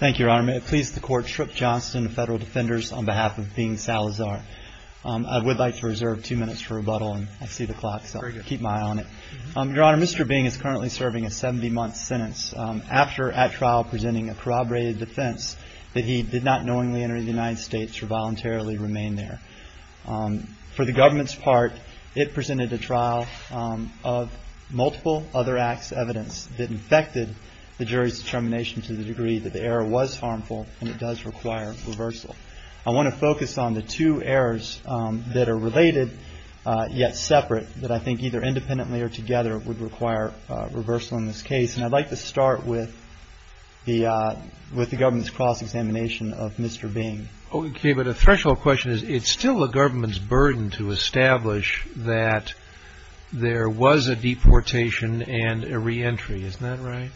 I would like to reserve two minutes for rebuttal and I see the clock so I'll keep my eye on it. Your Honor, Mr. Beng is currently serving a 70-month sentence after at trial presenting a corroborated defense that he did not knowingly enter the United States or voluntarily remain there. For the government's part, it presented a trial of multiple other acts of evidence that infected the jury's determination to the degree that the error was harmful and it does require reversal. I want to focus on the two errors that are related, yet separate, that I think either independently or together would require reversal in this case. And I'd like to start with the government's cross-examination of Mr. Beng. BENG-SALAZAR Okay, but a threshold question is it's still the government's burden to establish that there was a deportation and a reentry. Isn't that right?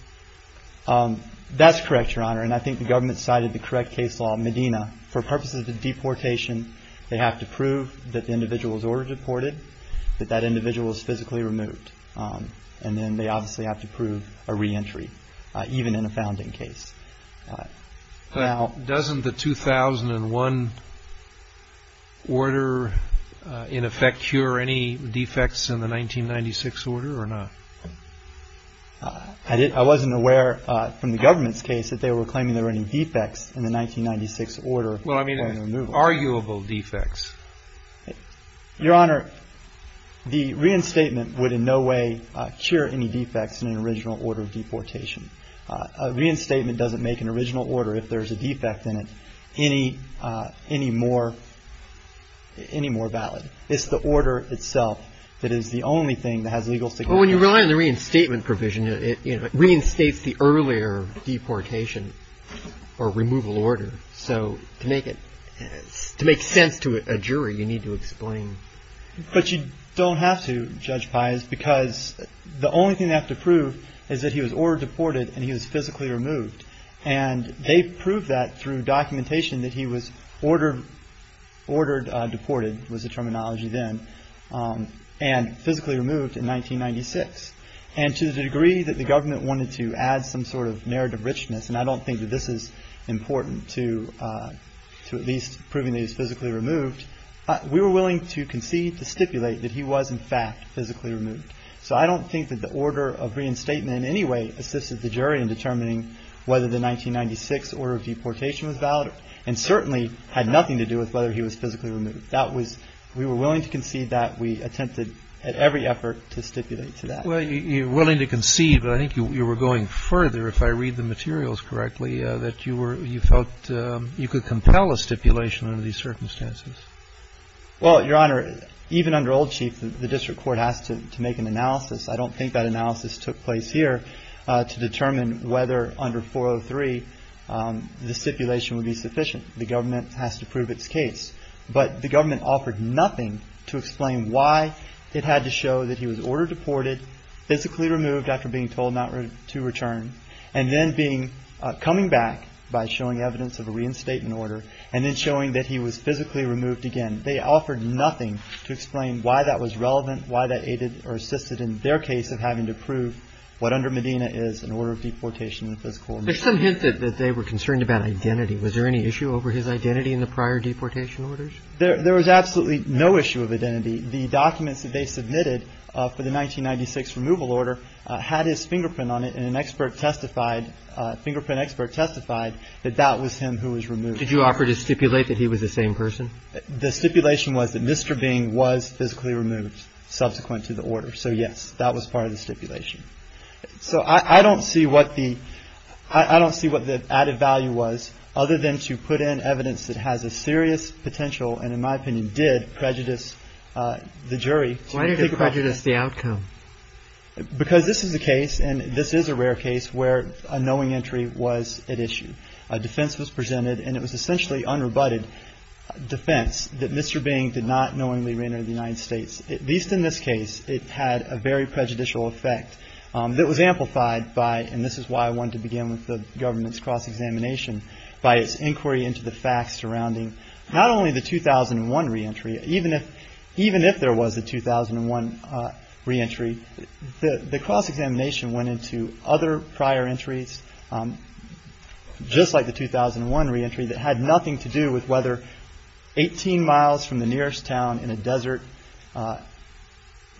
BENG-SALAZAR That's correct, Your Honor, and I think the government cited the correct case law in Medina. For purposes of deportation, they have to prove that the individual was ordered deported, that that individual was physically removed, and then they obviously have to prove a reentry, even in a founding case. CHIEF JUSTICE ROBERTS Doesn't the 2001 order, in effect, cure any defects in the 1996 order or not? BENG-SALAZAR I wasn't aware from the government's case that they were claiming there were any defects in the 1996 order. CHIEF JUSTICE ROBERTS Well, I mean, arguable defects. BENG-SALAZAR Your Honor, the reinstatement would in no way cure any defects in an original order of deportation. A reinstatement doesn't make an original order, if there's a defect in it, any more valid. It's the order itself that is the only thing that has legal significance. CHIEF JUSTICE ROBERTS Well, when you rely on the reinstatement provision, it reinstates the earlier deportation or removal order. So to make sense to a jury, you need to explain. BENG-SALAZAR But you don't have to, Judge Pius, because the only thing they have to prove is that he was ordered deported and he was physically removed. And they proved that through documentation that he was ordered deported, was the terminology then, and physically removed in 1996. And to the degree that the government wanted to add some sort of narrative richness, and I don't think that this is important to at least proving that he was physically removed, we were willing to concede to stipulate that he was in fact physically removed. So I don't think that the order of reinstatement in any way assisted the jury in determining whether the 1996 order of deportation was valid, and certainly had nothing to do with whether he was physically removed. That was we were willing to concede that we attempted at every effort to stipulate to that. CHIEF JUSTICE ROBERTS Well, you're willing to concede, but I think you were going further, if I read the materials correctly, that you felt you could compel a stipulation under these circumstances. BENG-SALAZAR Well, Your Honor, even under old chief, the district court has to make an analysis. I don't think that analysis took place here to determine whether under 403 the stipulation would be sufficient. The government has to prove its case. But the government offered nothing to explain why it had to show that he was ordered deported, physically removed after being told not to return, and then coming back by showing evidence of a reinstatement order, and then showing that he was physically removed again. They offered nothing to explain why that was relevant, why that aided or assisted in their case of having to prove what under Medina is, an order of deportation in the physical order. CHIEF JUSTICE ROBERTS There's some hint that they were concerned about identity. Was there any issue over his identity in the prior deportation orders? BENG-SALAZAR There was absolutely no issue of identity. The documents that they submitted for the 1996 removal order had his fingerprint on it, and an expert testified, fingerprint expert testified, that that was him who was removed. CHIEF JUSTICE ROBERTS Did you offer to stipulate that he was the same person? BENG-SALAZAR The stipulation was that Mr. Beng was physically removed subsequent to the order. So, yes, that was part of the stipulation. So I don't see what the added value was, other than to put in evidence that has a serious potential, and in my opinion, did prejudice the jury. CHIEF JUSTICE ROBERTS Why did it prejudice the outcome? BENG-SALAZAR Because this is a case, and this is a rare case, where a knowing entry was at issue. A defense was presented, and it was essentially unrebutted defense that Mr. Beng did not knowingly re-enter the United States. At least in this case, it had a very prejudicial effect that was amplified by, and this is why I wanted to begin with the government's cross-examination, by its inquiry into the facts surrounding not only the 2001 re-entry, even if there was a 2001 re-entry, the cross-examination went into other prior entries, just like the 2001 re-entry, that had nothing to do with whether 18 miles from the nearest town in a desert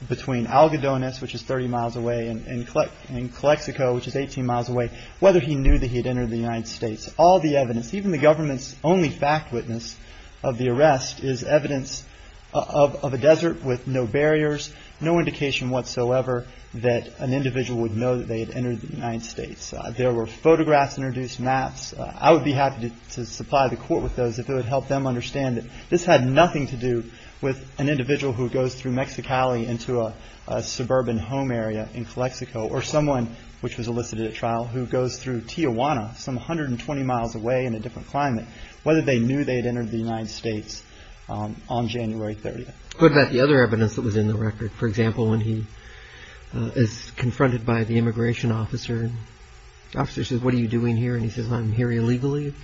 between Algodones, which is 30 miles away, and Clexico, which is 18 miles away, whether he knew that he had entered the United States. All the evidence, even the government's only fact witness of the arrest is evidence of a desert with no barriers, no indication whatsoever that an individual would know that they had entered the United States. There were photographs introduced, maps. I would be happy to supply the court with those if it would help them understand that this had nothing to do with an individual who goes through Mexicali into a suburban home area in Clexico, or someone which was elicited at trial who goes through Tijuana, some 120 miles away in a different climate, whether they knew they had entered the United States on January 30th. What about the other evidence that was in the record? For example, when he is confronted by the immigration officer, the officer says, what are you doing here? And he says, I'm here illegally.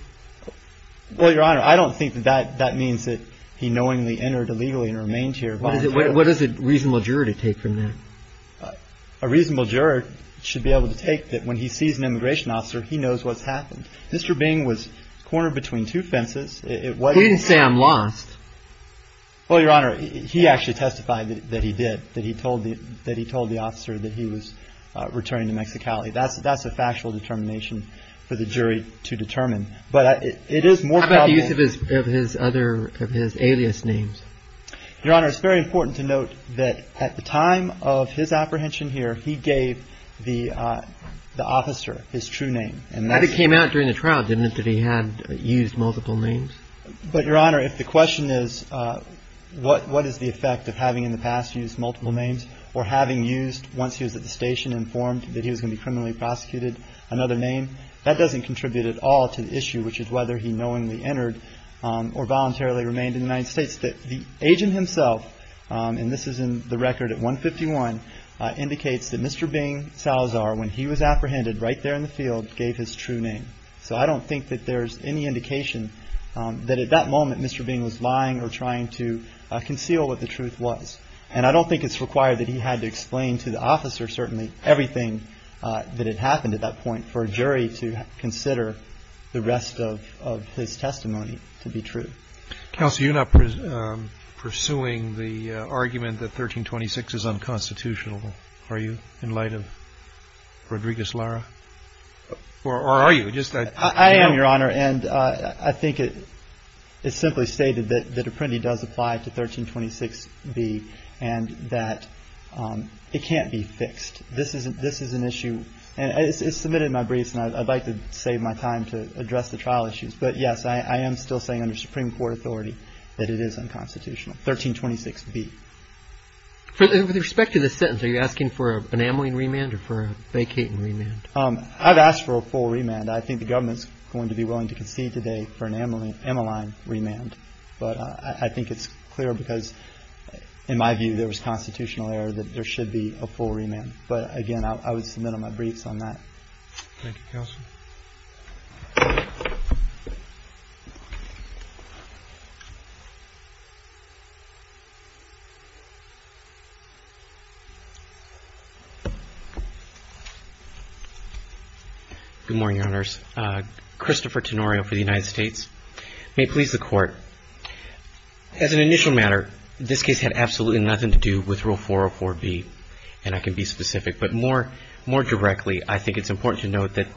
Well, Your Honor, I don't think that that means that he knowingly entered illegally and remained here. What does a reasonable juror take from that? A reasonable juror should be able to take that when he sees an immigration officer, he knows what's happened. Mr. Bing was cornered between two fences. He didn't say I'm lost. Well, Your Honor, he actually testified that he did, that he told the officer that he was returning to Mexicali. That's a factual determination for the jury to determine. How about the use of his other, of his alias names? Your Honor, it's very important to note that at the time of his apprehension here, he gave the officer his true name. And that came out during the trial, didn't it, that he had used multiple names? But, Your Honor, if the question is what is the effect of having in the past used multiple names or having used, once he was at the station, informed that he was going to be criminally prosecuted another name, which is whether he knowingly entered or voluntarily remained in the United States, that the agent himself, and this is in the record at 151, indicates that Mr. Bing Salazar, when he was apprehended right there in the field, gave his true name. So I don't think that there's any indication that at that moment Mr. Bing was lying or trying to conceal what the truth was. And I don't think it's required that he had to explain to the officer, certainly, everything that had happened at that point for a jury to consider the rest of his testimony to be true. Counsel, you're not pursuing the argument that 1326 is unconstitutional, are you, in light of Rodriguez-Lara? Or are you? I am, Your Honor. And I think it's simply stated that Apprendi does apply to 1326B and that it can't be fixed. This is an issue. And it's submitted in my briefs, and I'd like to save my time to address the trial issues. But, yes, I am still saying under Supreme Court authority that it is unconstitutional, 1326B. With respect to this sentence, are you asking for an amyline remand or for a vacating remand? I've asked for a full remand. I think the government's going to be willing to concede today for an amyline remand. But I think it's clear because, in my view, there was constitutional error that there should be a full remand. But, again, I would submit on my briefs on that. Thank you, Counsel. Good morning, Your Honors. Christopher Tenorio for the United States. May it please the Court, as an initial matter, this case had absolutely nothing to do with Rule 404B. And I can be specific. But more directly, I think it's important to note that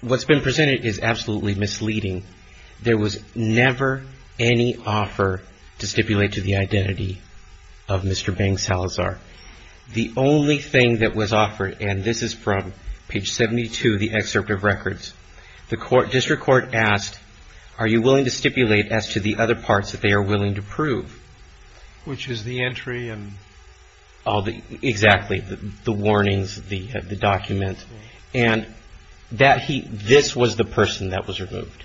what's been presented is absolutely misleading. There was never any offer to stipulate to the identity of Mr. Bang Salazar. The only thing that was offered, and this is from page 72, the excerpt of records, the district court asked, are you willing to stipulate as to the other parts that they are willing to prove? Which is the entry and all the... Exactly, the warnings, the document. And this was the person that was removed.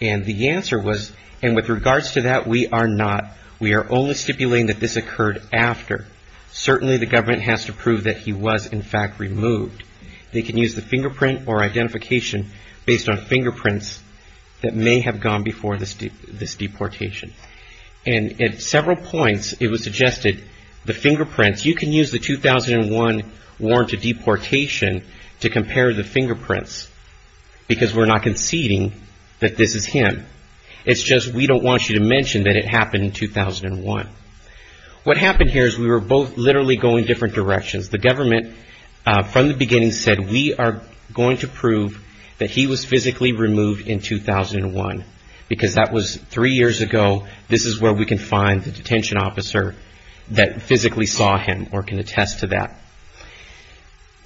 And the answer was, and with regards to that, we are not. We are only stipulating that this occurred after. Certainly, the government has to prove that he was, in fact, removed. They can use the fingerprint or identification based on fingerprints that may have gone before this deportation. And at several points, it was suggested the fingerprints, you can use the 2001 warrant of deportation to compare the fingerprints. Because we're not conceding that this is him. It's just we don't want you to mention that it happened in 2001. What happened here is we were both literally going different directions. The government, from the beginning, said we are going to prove that he was physically removed in 2001. Because that was three years ago. This is where we can find the detention officer that physically saw him or can attest to that.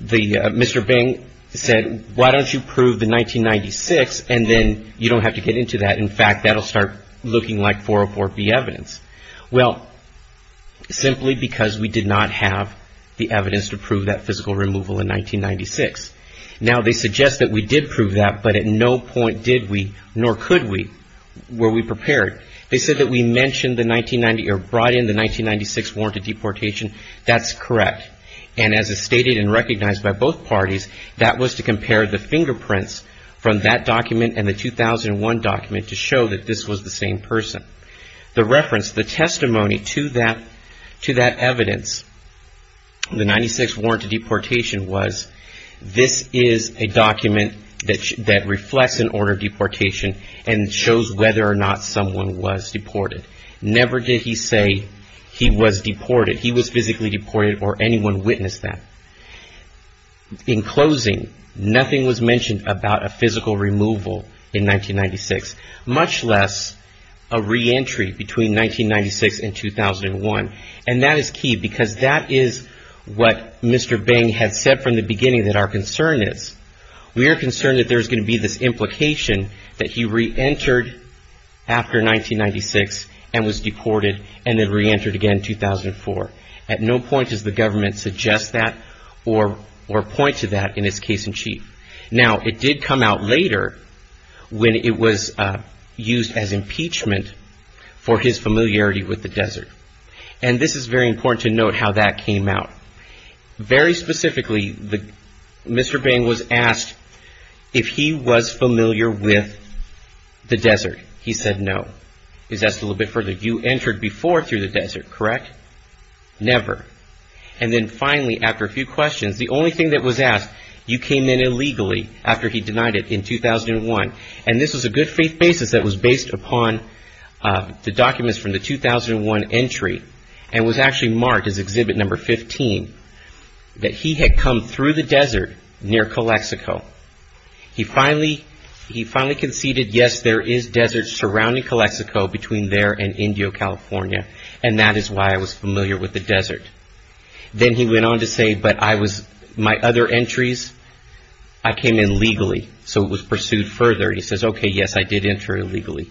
Mr. Bing said, why don't you prove the 1996 and then you don't have to get into that. In fact, that will start looking like 404B evidence. Well, simply because we did not have the evidence to prove that physical removal in 1996. Now, they suggest that we did prove that, but at no point did we, nor could we, were we prepared. They said that we mentioned the 1990 or brought in the 1996 warrant of deportation. That's correct. And as is stated and recognized by both parties, that was to compare the fingerprints from that document and the 2001 document to show that this was the same person. The reference, the testimony to that evidence, the 1996 warrant of deportation was, this is a document that reflects an order of deportation and shows whether or not someone was deported. Never did he say he was deported. He was physically deported or anyone witnessed that. In closing, nothing was mentioned about a physical removal in 1996, much less a reentry between 1996 and 2001. And that is key because that is what Mr. Bing had said from the beginning that our concern is. We are concerned that there's going to be this implication that he reentered after 1996 and was deported and then reentered again in 2004. At no point does the government suggest that or point to that in his case in chief. Now, it did come out later when it was used as impeachment for his familiarity with the desert. And this is very important to note how that came out. Very specifically, Mr. Bing was asked if he was familiar with the desert. He said no. He was asked a little bit further, you entered before through the desert, correct? Never. And then finally, after a few questions, the only thing that was asked, you came in illegally after he denied it in 2001. And this was a good faith basis that was based upon the documents from the 2001 entry and was actually marked as exhibit number 15, that he had come through the desert near Calexico. He finally conceded, yes, there is desert surrounding Calexico between there and Indio, California, and that is why I was familiar with the desert. Then he went on to say, but my other entries, I came in legally. So it was pursued further. He says, okay, yes, I did enter illegally.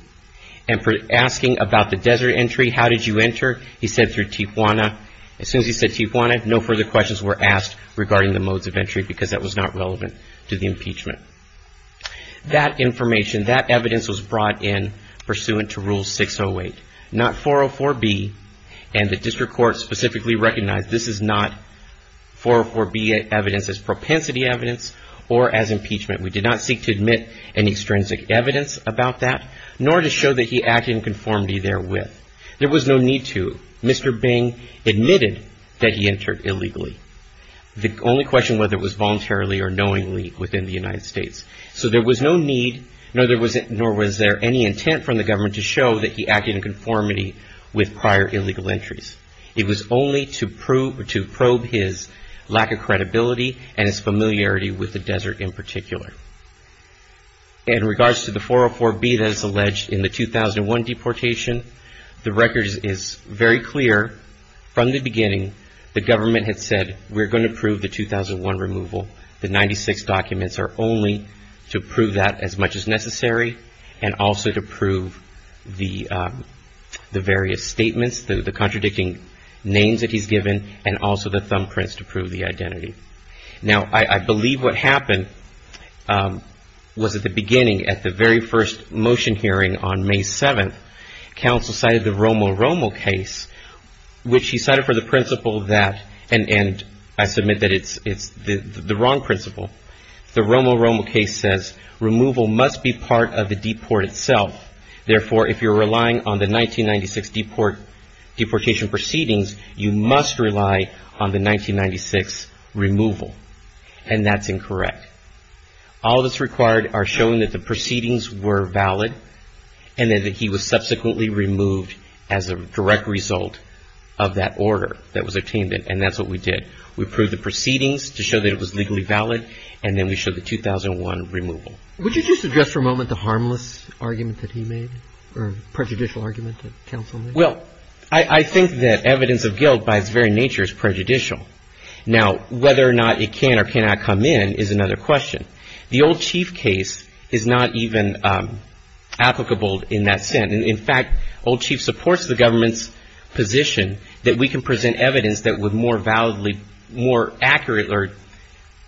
And for asking about the desert entry, how did you enter? He said through Tijuana. As soon as he said Tijuana, no further questions were asked regarding the modes of entry because that was not relevant to the impeachment. That information, that evidence was brought in pursuant to Rule 608, not 404B, and the district court specifically recognized this is not 404B evidence as propensity evidence or as impeachment. We did not seek to admit any extrinsic evidence about that, nor to show that he acted in conformity therewith. There was no need to. Mr. Bing admitted that he entered illegally. The only question whether it was voluntarily or knowingly within the United States. So there was no need, nor was there any intent from the government to show that he acted in conformity with prior illegal entries. It was only to probe his lack of credibility and his familiarity with the desert in particular. In regards to the 404B that is alleged in the 2001 deportation, the record is very clear from the beginning the government had said we're going to prove the 2001 removal. The 96 documents are only to prove that as much as necessary and also to prove the various statements, the contradicting names that he's given, and also the thumbprints to prove the identity. Now, I believe what happened was at the beginning at the very first motion hearing on May 7th, counsel cited the Romo-Romo case, which he cited for the principle that, and I submit that it's the wrong principle. The Romo-Romo case says removal must be part of the deport itself. Therefore, if you're relying on the 1996 deportation proceedings, you must rely on the 1996 removal. And that's incorrect. All that's required are showing that the proceedings were valid and that he was subsequently removed as a direct result of that order that was obtained, and that's what we did. We proved the proceedings to show that it was legally valid, and then we showed the 2001 removal. Would you just address for a moment the harmless argument that he made or prejudicial argument that counsel made? Well, I think that evidence of guilt by its very nature is prejudicial. Now, whether or not it can or cannot come in is another question. The old chief case is not even applicable in that sense. In fact, old chief supports the government's position that we can present evidence that would more validly, more accurate or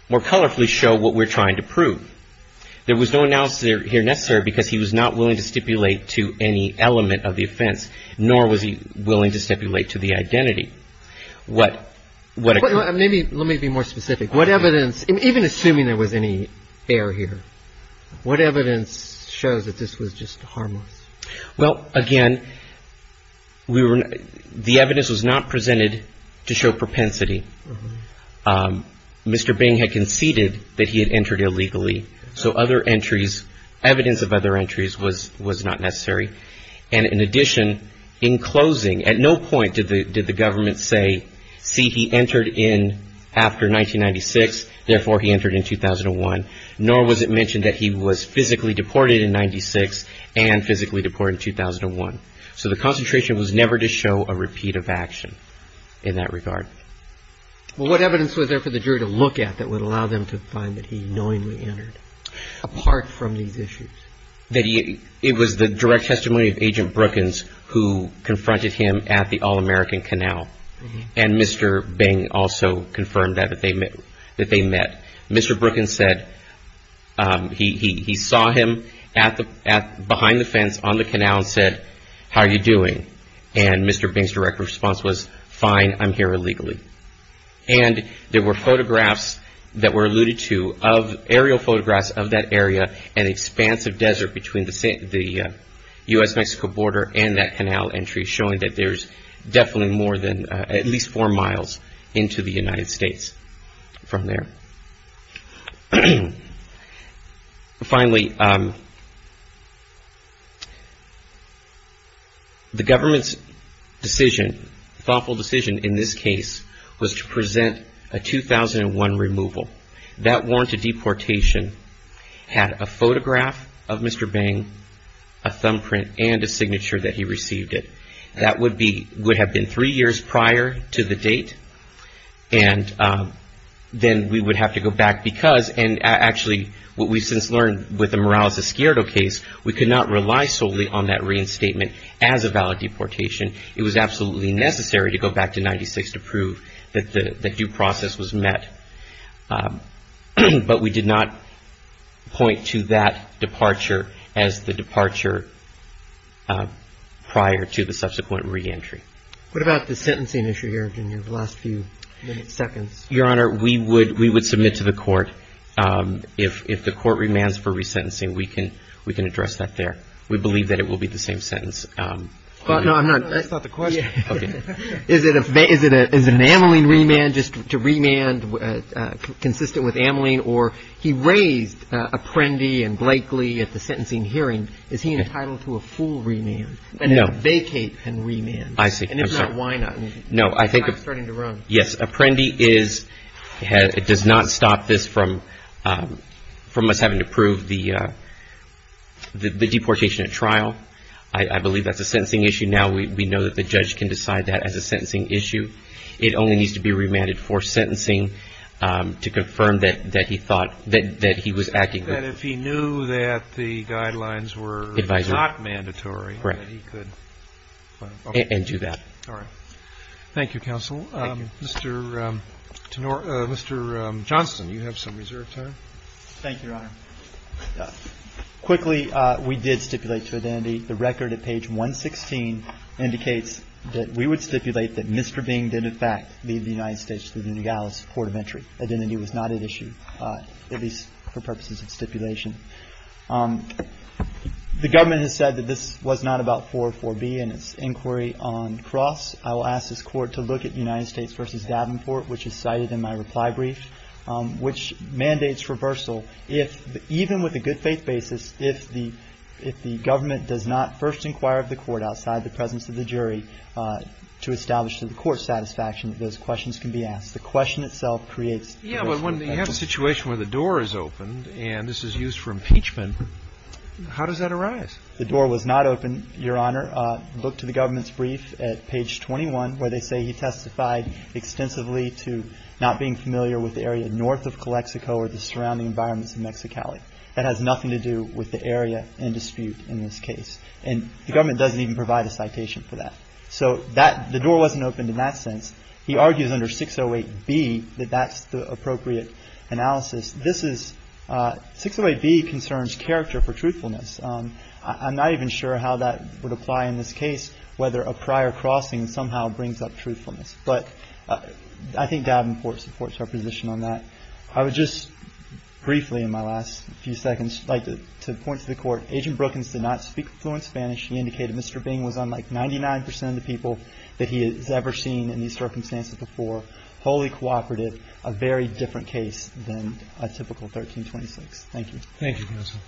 more colorfully show what we're trying to prove. There was no analysis here necessary because he was not willing to stipulate to any element of the offense, nor was he willing to stipulate to the identity. Let me be more specific. What evidence, even assuming there was any error here, what evidence shows that this was just harmless? Well, again, the evidence was not presented to show propensity. Mr. Bing had conceded that he had entered illegally, so other entries, evidence of other entries was not necessary. And in addition, in closing, at no point did the government say, see, he entered in after 1996, therefore he entered in 2001, nor was it mentioned that he was physically deported in 96 and physically deported in 2001. So the concentration was never to show a repeat of action in that regard. Well, what evidence was there for the jury to look at that would allow them to find that he knowingly entered, apart from these issues? It was the direct testimony of Agent Brookins who confronted him at the All-American Canal. And Mr. Bing also confirmed that they met. Mr. Brookins said he saw him behind the fence on the canal and said, how are you doing? And Mr. Bing's direct response was, fine, I'm here illegally. And there were photographs that were alluded to, aerial photographs of that area, an expansive desert between the U.S.-Mexico border and that canal entry, showing that there's definitely more than at least four miles into the United States from there. Finally, the government's decision, thoughtful decision in this case, was to present a 2001 removal. That warranted deportation had a photograph of Mr. Bing, a thumbprint, and a signature that he received it. That would have been three years prior to the date. And then we would have to go back because, and actually what we've since learned with the Morales-Escuero case, we could not rely solely on that reinstatement as a valid deportation. It was absolutely necessary to go back to 1996 to prove that the due process was met. But we did not point to that departure as the departure prior to the subsequent reentry. What about the sentencing issue here, Virginia, the last few minutes, seconds? Your Honor, we would submit to the court. If the court remands for resentencing, we can address that there. We believe that it will be the same sentence. No, I'm not. That's not the question. Okay. Is it an Ameline remand just to remand consistent with Ameline? Or he raised Apprendi and Blakely at the sentencing hearing. Is he entitled to a full remand? No. And a vacate and remand? I see. I'm sorry. And if not, why not? I'm starting to run. Yes. Apprendi does not stop this from us having to prove the deportation at trial. I believe that's a sentencing issue now. We know that the judge can decide that as a sentencing issue. It only needs to be remanded for sentencing to confirm that he thought that he was acting. That if he knew that the guidelines were not mandatory, that he could. Right. And do that. All right. Thank you, counsel. Mr. Johnston, you have some reserved time. Thank you, Your Honor. Quickly, we did stipulate to identity. The record at page 116 indicates that we would stipulate that Mr. Bing did, in fact, leave the United States through the Nogales Court of Entry. Identity was not at issue, at least for purposes of stipulation. The government has said that this was not about 404B and its inquiry on Cross. I will ask this Court to look at United States v. Davenport, which is cited in my reply brief, which mandates reversal if, even with a good faith basis, if the government does not first inquire of the court outside the presence of the jury to establish to the court's satisfaction that those questions can be asked. The question itself creates reversal. Yeah, but when you have a situation where the door is open and this is used for impeachment, how does that arise? The door was not open, Your Honor. Look to the government's brief at page 21 where they say he testified extensively to not being familiar with the area north of Calexico or the surrounding environments of Mexicali. That has nothing to do with the area in dispute in this case. And the government doesn't even provide a citation for that. So the door wasn't opened in that sense. He argues under 608B that that's the appropriate analysis. This is 608B concerns character for truthfulness. I'm not even sure how that would apply in this case, whether a prior crossing somehow brings up truthfulness. But I think Davenport supports her position on that. I would just briefly in my last few seconds like to point to the court, Agent Brookins did not speak fluent Spanish. He indicated Mr. Bing was unlike 99% of the people that he has ever seen in these circumstances before, wholly cooperative, a very different case than a typical 1326. Thank you. Thank you, counsel.